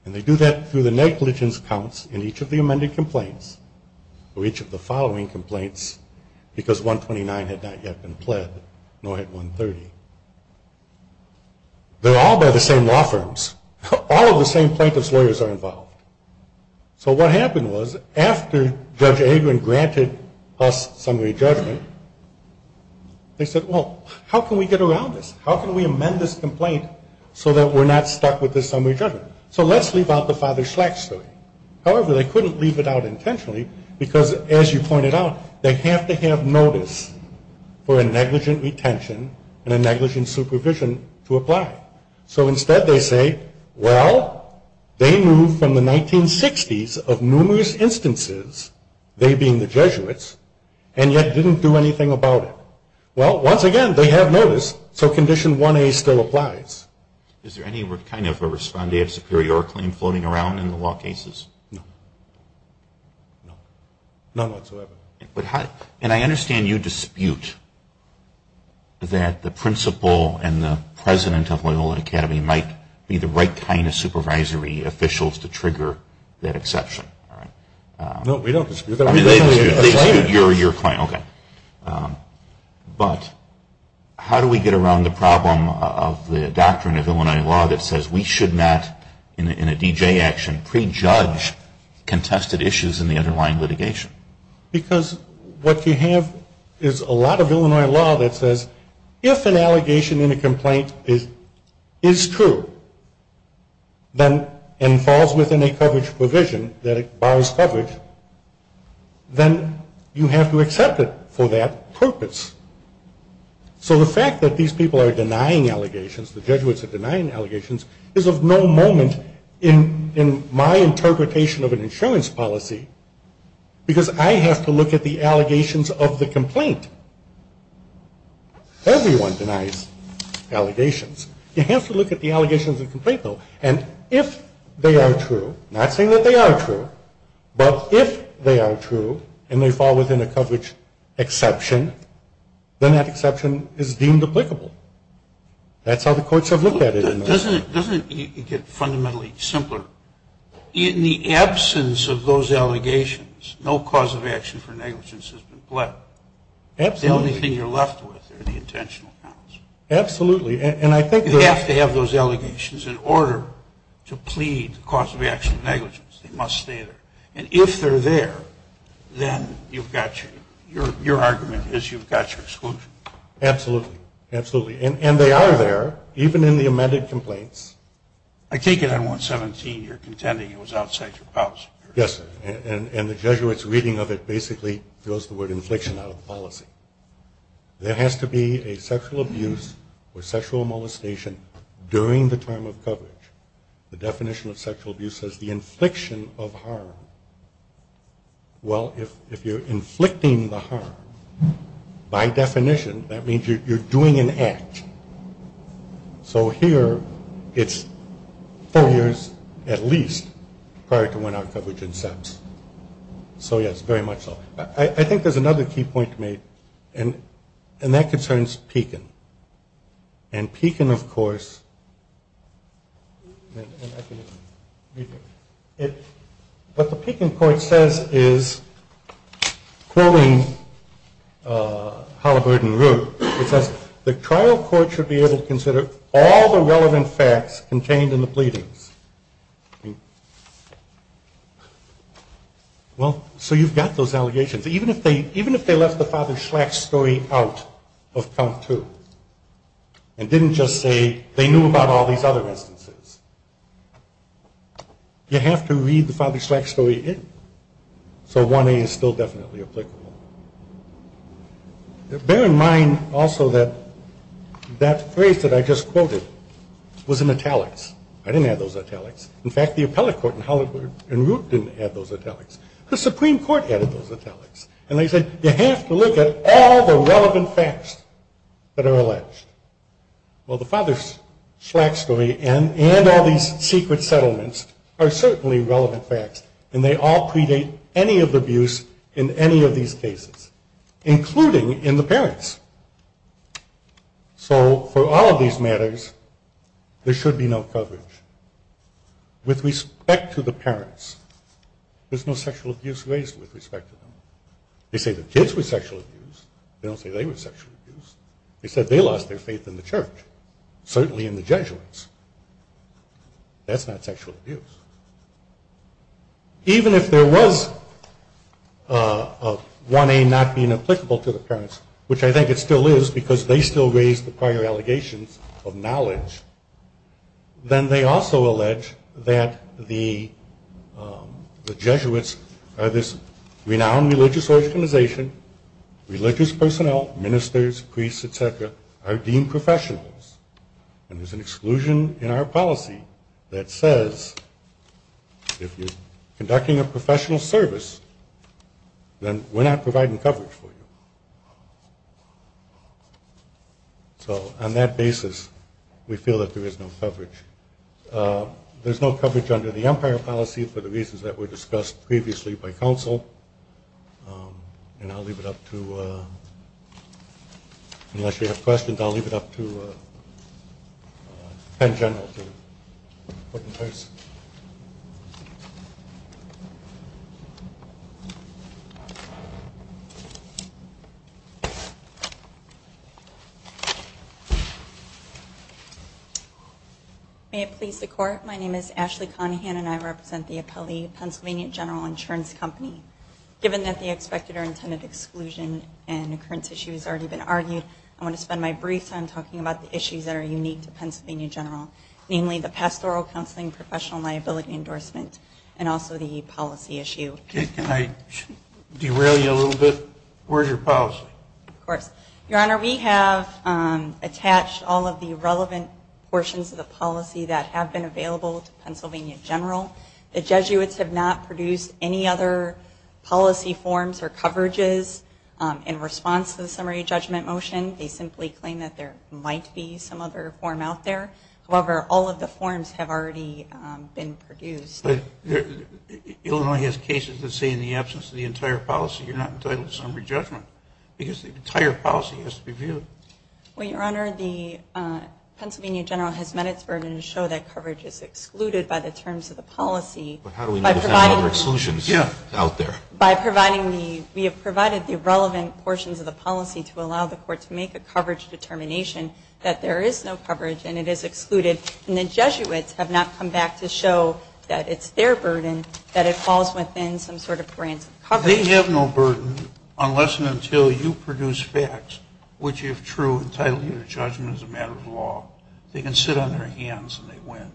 And they do that through the negligence counts in each of the amended complaints, or each of the following complaints, because 129 had not yet been pled, nor had 130. They're all by the same law firms. All of the same plaintiff's lawyers are involved. So what happened was, after Judge Agron granted us summary judgment, they said, well, how can we get around this? How can we amend this complaint so that we're not stuck with this summary judgment? So let's leave out the Father Schlack story. However, they couldn't leave it out intentionally, because, as you pointed out, they have to have notice for a negligent retention and a negligent supervision to apply. So instead they say, well, they moved from the 1960s of numerous instances, they being the Jesuits, and yet didn't do anything about it. Well, once again, they have notice, so Condition 1A still applies. Is there any kind of a respondee of superior claim floating around in the law cases? No. None whatsoever. And I understand you dispute that the principal and the president of Loyola Academy might be the right kind of supervisory officials to trigger that exception. No, we don't dispute that. They dispute your claim. But how do we get around the problem of the doctrine of Illinois law that says we should not, in a D.J. action, prejudge contested issues in the underlying litigation? Because what you have is a lot of Illinois law that says if an allegation in a complaint is true, and falls within a coverage provision that it borrows coverage, then you have to accept it for that purpose. So the fact that these people are denying allegations, the Jesuits are denying allegations, is of no moment in my interpretation of an insurance policy, because I have to look at the allegations of the complaint. Everyone denies allegations. You have to look at the allegations of the complaint, though. And if they are true, not saying that they are true, but if they are true and they fall within a coverage exception, then that exception is deemed applicable. That's how the courts have looked at it. Doesn't it get fundamentally simpler? In the absence of those allegations, no cause of action for negligence has been pled. Absolutely. The only thing you're left with are the intentional counts. Absolutely. You have to have those allegations in order to plead the cause of action of negligence. They must stay there. And if they're there, then your argument is you've got your exclusion. Absolutely. Absolutely. And they are there, even in the amended complaints. I take it on 117 you're contending it was outside your policy. Yes. And the Jesuits' reading of it basically throws the word infliction out of the policy. There has to be a sexual abuse or sexual molestation during the term of coverage. The definition of sexual abuse says the infliction of harm. Well, if you're inflicting the harm, by definition, that means you're doing an act. So here it's four years at least prior to when our coverage incepts. So, yes, very much so. I think there's another key point to make, and that concerns Pekin. And Pekin, of course, what the Pekin court says is, quoting Halliburton Root, it says, the trial court should be able to consider all the relevant facts contained in the pleadings. I mean, well, so you've got those allegations. Even if they left the Father Schlack story out of count two and didn't just say they knew about all these other instances, you have to read the Father Schlack story in. So 1A is still definitely applicable. Bear in mind also that that phrase that I just quoted was in italics. I didn't have those italics. In fact, the appellate court in Halliburton Root didn't have those italics. The Supreme Court had those italics. And they said you have to look at all the relevant facts that are alleged. Well, the Father Schlack story and all these secret settlements are certainly relevant facts, and they all predate any of the abuse in any of these cases, including in the parents. So for all of these matters, there should be no coverage. With respect to the parents, there's no sexual abuse raised with respect to them. They say the kids were sexually abused. They don't say they were sexually abused. They said they lost their faith in the church, certainly in the Jesuits. That's not sexual abuse. Even if there was 1A not being applicable to the parents, which I think it still is because they still raise the prior allegations of knowledge, then they also allege that the Jesuits are this renowned religious organization, religious personnel, ministers, priests, et cetera, are deemed professionals. And there's an exclusion in our policy that says if you're conducting a professional service, then we're not providing coverage for you. So on that basis, we feel that there is no coverage. There's no coverage under the Empire policy for the reasons that were discussed previously by counsel. And I'll leave it up to you. Unless you have questions, I'll leave it up to Penn General to put in place. My name is Ashley Conahan, and I represent the Appellee Pennsylvania General Insurance Company. Given that the expected or intended exclusion and occurrence issue has already been argued, I want to spend my brief time talking about the issues that are unique to Pennsylvania General, namely the pastoral counseling professional liability endorsement and also the policy issue. Can I derail you a little bit? Where's your policy? Of course. Your Honor, we have attached all of the relevant portions of the policy that have been available to Pennsylvania General. The Jesuits have not produced any other policy forms or coverages in response to the summary judgment motion. They simply claim that there might be some other form out there. However, all of the forms have already been produced. Illinois has cases that say in the absence of the entire policy, you're not entitled to summary judgment because the entire policy has to be reviewed. Well, Your Honor, the Pennsylvania General has met its burden to show that coverage is excluded by the terms of the policy. But how do we know if there are other exclusions out there? By providing the relevant portions of the policy to allow the court to make a coverage determination that there is no coverage and it is excluded. And the Jesuits have not come back to show that it's their burden, that it falls within some sort of grants of coverage. Well, they have no burden unless and until you produce facts which, if true, entitle you to judgment as a matter of law. They can sit on their hands and they win.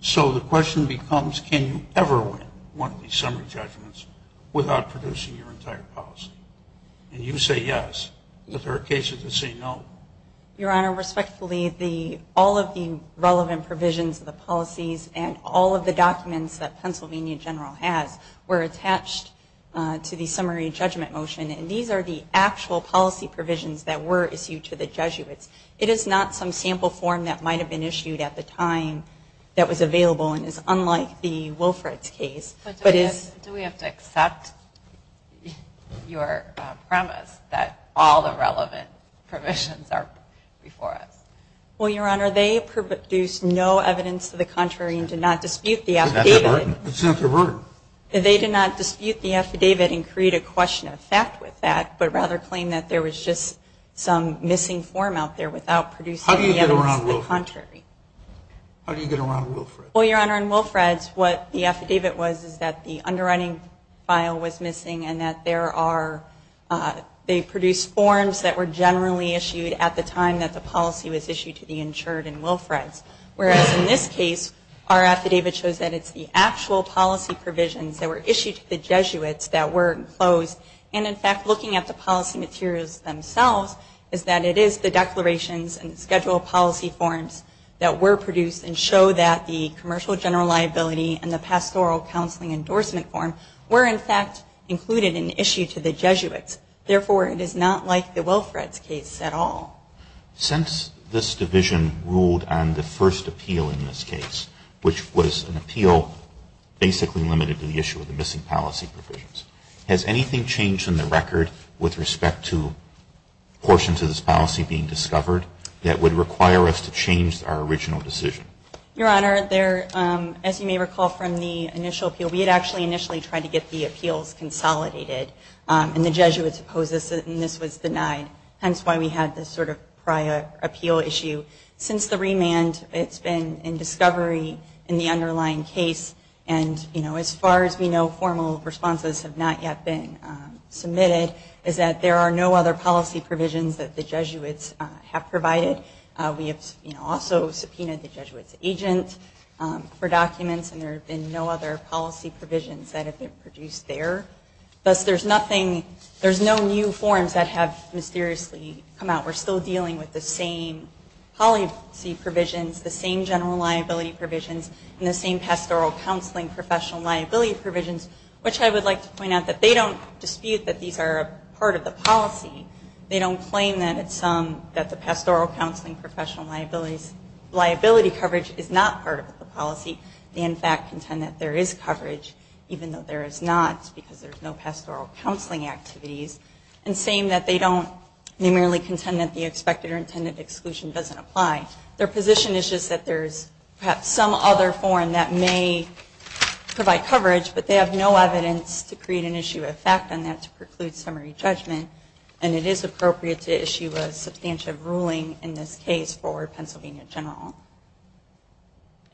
So the question becomes, can you ever win one of these summary judgments without producing your entire policy? And you say yes, but there are cases that say no. Your Honor, respectfully, all of the relevant provisions of the policies and all of the documents that Pennsylvania General has were attached to the summary judgment motion, and these are the actual policy provisions that were issued to the Jesuits. It is not some sample form that might have been issued at the time that was available and is unlike the Wilfred's case. But do we have to accept your premise that all the relevant provisions are before us? Well, Your Honor, they produced no evidence to the contrary and did not dispute the affidavit. It's not their burden. They did not dispute the affidavit and create a question of fact with that, but rather claim that there was just some missing form out there without producing evidence to the contrary. How do you get around Wilfred's? How do you get around Wilfred's? Well, Your Honor, in Wilfred's, what the affidavit was is that the underwriting file was missing and that they produced forms that were generally issued at the time that the policy was issued to the insured in Wilfred's. Whereas in this case, our affidavit shows that it's the actual policy provisions that were issued to the Jesuits that were enclosed, and in fact, looking at the policy materials themselves, is that it is the declarations and schedule policy forms that were produced and show that the commercial general liability and the pastoral counseling endorsement form were in fact included in the issue to the Jesuits. Therefore, it is not like the Wilfred's case at all. Since this division ruled on the first appeal in this case, which was an appeal basically limited to the issue of the missing policy provisions, has anything changed in the record with respect to portions of this policy being discovered that would require us to change our original decision? Your Honor, as you may recall from the initial appeal, we had actually initially tried to get the appeals consolidated, and the Jesuits opposed this and this was denied, hence why we had this sort of prior appeal issue. Since the remand, it's been in discovery in the underlying case, and as far as we know, formal responses have not yet been submitted, is that there are no other policy provisions that the Jesuits have provided. We have also subpoenaed the Jesuits' agent for documents, and there have been no other policy provisions that have been produced there. Thus, there's no new forms that have mysteriously come out. We're still dealing with the same policy provisions, the same general liability provisions, and the same pastoral counseling professional liability provisions, which I would like to point out that they don't dispute that these are a part of the policy. They don't claim that the pastoral counseling professional liability coverage is not part of the policy. They in fact contend that there is coverage, even though there is not, because there's no pastoral counseling activities, and saying that they don't numerally contend that the expected or intended exclusion doesn't apply. Their position is just that there's perhaps some other form that may provide coverage, but they have no evidence to create an issue of fact on that to preclude summary judgment, and it is appropriate to issue a substantive ruling in this case for Pennsylvania general.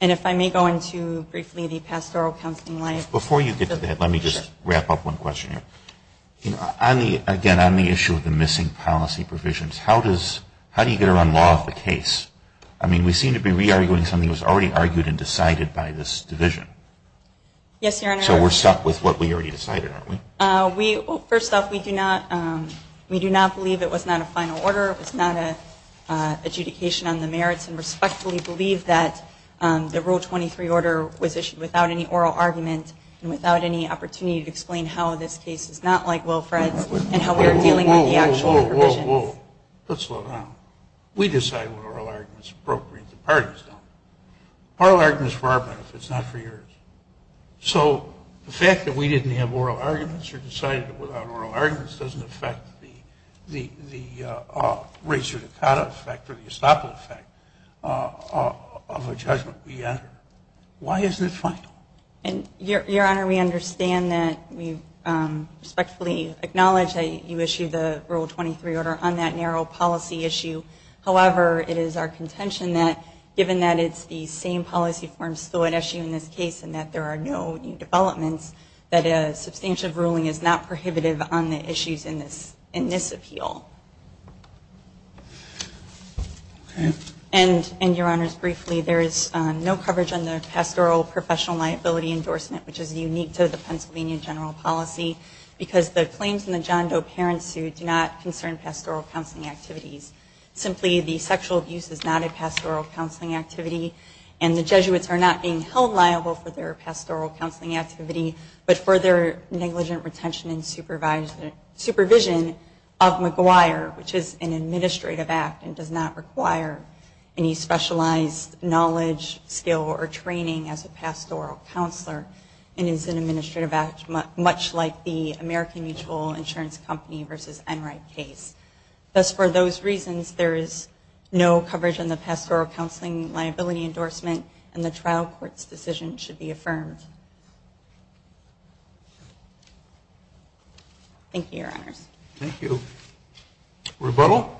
And if I may go into briefly the pastoral counseling liability. Before you get to that, let me just wrap up one question here. Again, on the issue of the missing policy provisions, how do you get around law of the case? I mean, we seem to be re-arguing something that was already argued and decided by this division. Yes, Your Honor. So we're stuck with what we already decided, aren't we? Well, first off, we do not believe it was not a final order. It was not an adjudication on the merits, and respectfully believe that the Rule 23 order was issued without any oral argument and without any opportunity to explain how this case is not like Wilfred's and how we are dealing with the actual provisions. Whoa, whoa, whoa. Let's slow down. We decide what oral arguments are appropriate. The parties don't. Oral arguments are for our benefits, not for yours. So the fact that we didn't have oral arguments or decided it without oral arguments doesn't affect the razor-to-cutter effect or the estoppel effect of a judgment we enter. Why isn't it final? Your Honor, we understand that. We respectfully acknowledge that you issued the Rule 23 order on that narrow policy issue. However, it is our contention that, given that it's the same policy form still at issue in this case and that there are no new developments, that a substantive ruling is not prohibitive on the issues in this appeal. And, Your Honors, briefly, there is no coverage on the pastoral professional liability endorsement, which is unique to the Pennsylvania general policy, because the claims in the John Doe parent suit do not concern pastoral counseling activities. Simply, the sexual abuse is not a pastoral counseling activity, and the Jesuits are not being held liable for their pastoral counseling activity but for their negligent retention and supervision of McGuire, which is an administrative act and does not require any specialized knowledge, skill, or training as a pastoral counselor and is an administrative act much like the American Mutual Insurance Company versus Enright case. Thus, for those reasons, there is no coverage on the pastoral counseling liability endorsement, and the trial court's decision should be affirmed. Thank you, Your Honors. Thank you. Rebuttal?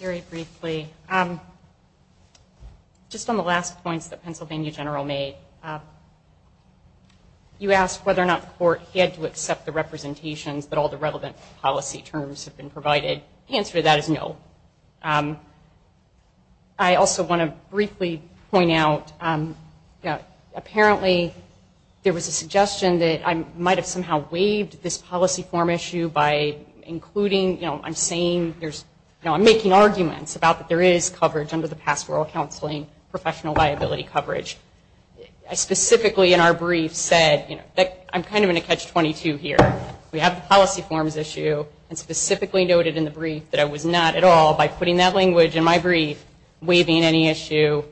Very briefly. Just on the last points that Pennsylvania general made, you asked whether or not the court had to accept the representations that all the relevant policy terms have been provided. The answer to that is no. I also want to briefly point out, apparently there was a suggestion that I might have somehow waived this policy form issue by including, you know, I'm saying there's, you know, I'm making arguments about that there is coverage under the pastoral counseling professional liability coverage. I specifically in our brief said, you know, that I'm kind of in a catch-22 here. We have the policy forms issue, and specifically noted in the brief that I was not at all by putting that language in my brief waiving any issue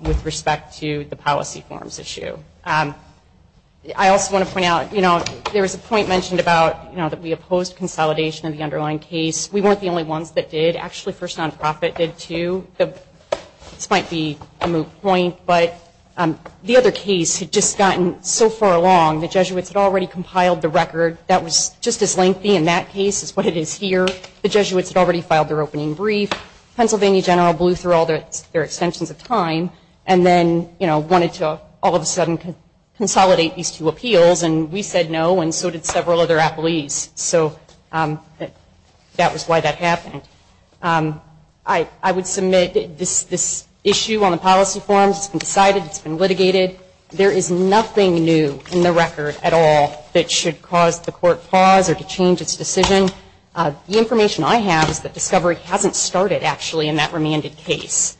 with respect to the policy forms issue. I also want to point out, you know, there was a point mentioned about, you know, that we opposed consolidation of the underlying case. We weren't the only ones that did. Actually, First Nonprofit did too. This might be a moot point, but the other case had just gotten so far along. The Jesuits had already compiled the record. That was just as lengthy in that case as what it is here. The Jesuits had already filed their opening brief. Pennsylvania general blew through all their extensions of time, and then, you know, wanted to all of a sudden consolidate these two appeals, and we said no, and so did several other appellees. So that was why that happened. I would submit this issue on the policy forms has been decided. It's been litigated. There is nothing new in the record at all that should cause the court pause or to change its decision. The information I have is that discovery hasn't started, actually, in that remanded case.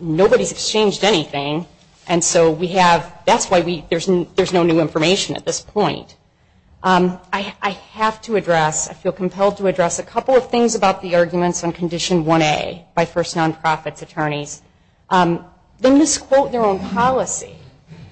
Nobody's exchanged anything, and so we have – that's why we – there's no new information at this point. I have to address – I feel compelled to address a couple of things about the arguments on Condition 1A by First Nonprofit's attorneys. They misquote their own policy.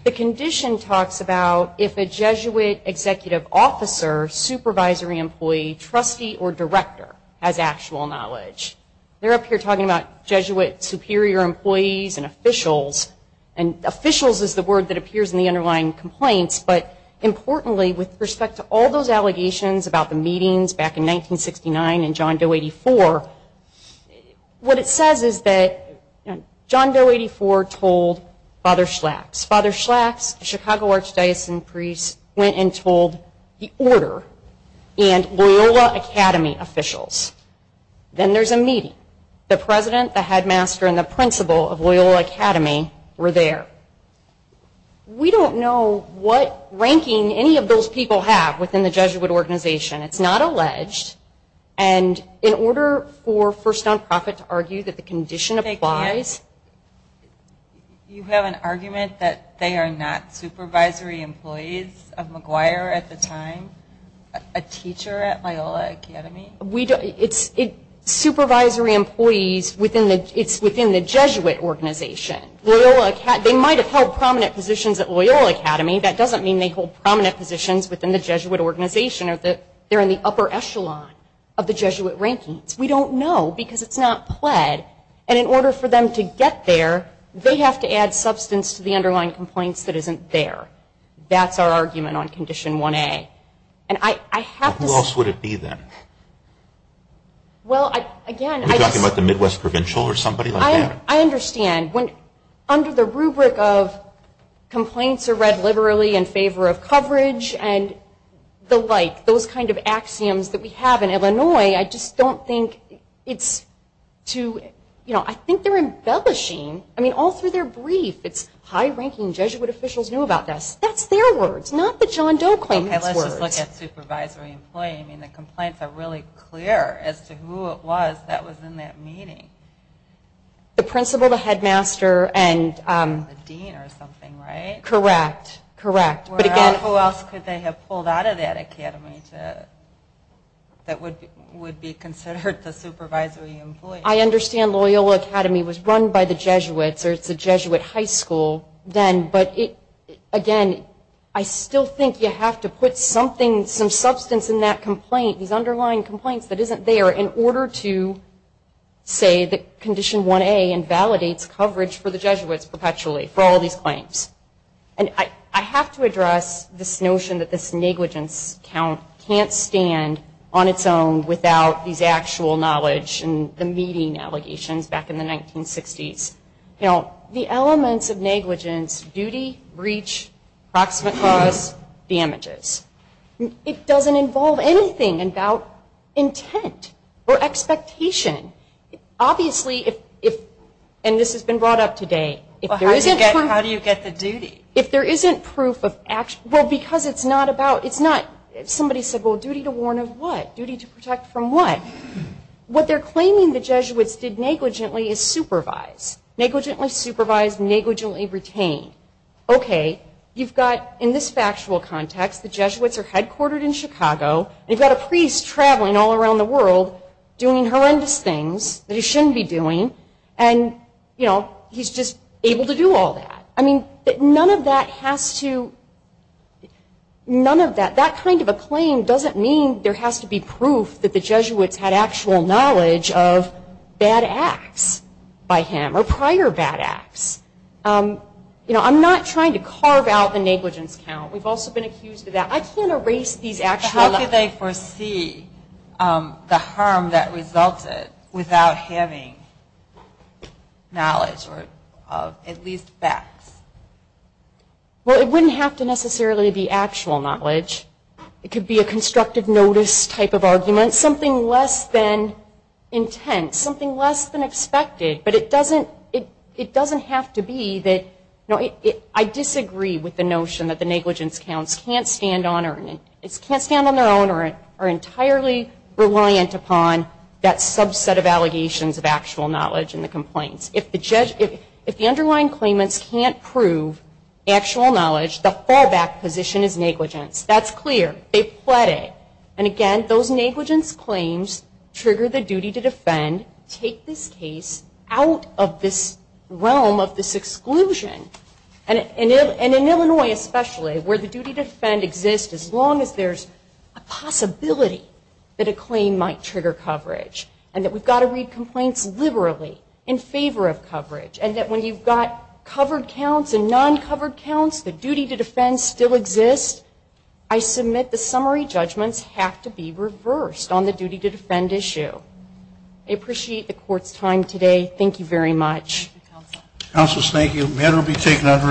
The condition talks about if a Jesuit executive officer, supervisory employee, trustee, or director has actual knowledge. They're up here talking about Jesuit superior employees and officials, and officials is the word that appears in the underlying complaints, but importantly, with respect to all those allegations about the meetings back in 1969 and John Doe 84, what it says is that John Doe 84 told Father Schlax. Father Schlax, a Chicago Archdiocesan priest, went and told the order and Loyola Academy officials. Then there's a meeting. The president, the headmaster, and the principal of Loyola Academy were there. We don't know what ranking any of those people have within the Jesuit organization. It's not alleged, and in order for First Nonprofit to argue that the condition applies – They can't? You have an argument that they are not supervisory employees of McGuire at the time, a teacher at Loyola Academy? It's supervisory employees within the – it's within the Jesuit organization. They might have held prominent positions at Loyola Academy. That doesn't mean they hold prominent positions within the Jesuit organization or that they're in the upper echelon of the Jesuit rankings. We don't know because it's not pled, and in order for them to get there, they have to add substance to the underlying complaints that isn't there. That's our argument on Condition 1A. And I have to say – Who else would it be, then? Well, again – Are you talking about the Midwest Provincial or somebody like that? I understand. Under the rubric of complaints are read liberally in favor of coverage and the like, those kind of axioms that we have in Illinois, I just don't think it's too – I think they're embellishing. I mean, all through their brief, it's high-ranking Jesuit officials knew about this. That's their words, not the John Doe claimant's words. Okay, let's just look at supervisory employee. I mean, the complaints are really clear as to who it was that was in that meeting. The principal, the headmaster, and – The dean or something, right? Correct. Correct. Who else could they have pulled out of that academy that would be considered the supervisory employee? I understand Loyola Academy was run by the Jesuits, or it's a Jesuit high school then, but again, I still think you have to put something, some substance in that complaint, these underlying complaints that isn't there in order to say that Condition 1A invalidates coverage for the Jesuits perpetually for all these claims. And I have to address this notion that this negligence count can't stand on its own without these actual knowledge and the meeting allegations back in the 1960s. The elements of negligence, duty, breach, proximate cause, damages, it doesn't involve anything about intent or expectation. Obviously, if – and this has been brought up today – How do you get the duty? If there isn't proof of – well, because it's not about – it's not – if somebody said, well, duty to warn of what? Duty to protect from what? What they're claiming the Jesuits did negligently is supervise. Negligently supervise, negligently retain. Okay, you've got, in this factual context, the Jesuits are headquartered in Chicago, you've got a priest traveling all around the world doing horrendous things that he shouldn't be doing, and, you know, he's just able to do all that. I mean, none of that has to – none of that – that kind of a claim doesn't mean there has to be proof that the Jesuits had actual knowledge of bad acts by him or prior bad acts. You know, I'm not trying to carve out the negligence count. We've also been accused of that. I can't erase these actual – How could they foresee the harm that resulted without having knowledge of at least facts? Well, it wouldn't have to necessarily be actual knowledge. It could be a constructive notice type of argument, something less than intent, something less than expected, but it doesn't have to be that – I disagree with the notion that the negligence counts can't stand on their own or are entirely reliant upon that subset of allegations of actual knowledge in the complaints. If the underlying claimants can't prove actual knowledge, the fallback position is negligence. That's clear. They pled it. And, again, those negligence claims trigger the duty to defend, take this case out of this realm of this exclusion. And in Illinois especially, where the duty to defend exists as long as there's a possibility that a claim might trigger coverage and that we've got to read complaints liberally in favor of coverage and that when you've got covered counts and non-covered counts, the duty to defend still exists, I submit the summary judgments have to be reversed on the duty to defend issue. I appreciate the Court's time today. Thank you very much. Thank you, Counsel. Counsel, thank you. The matter will be taken under advisement. Court is adjourned.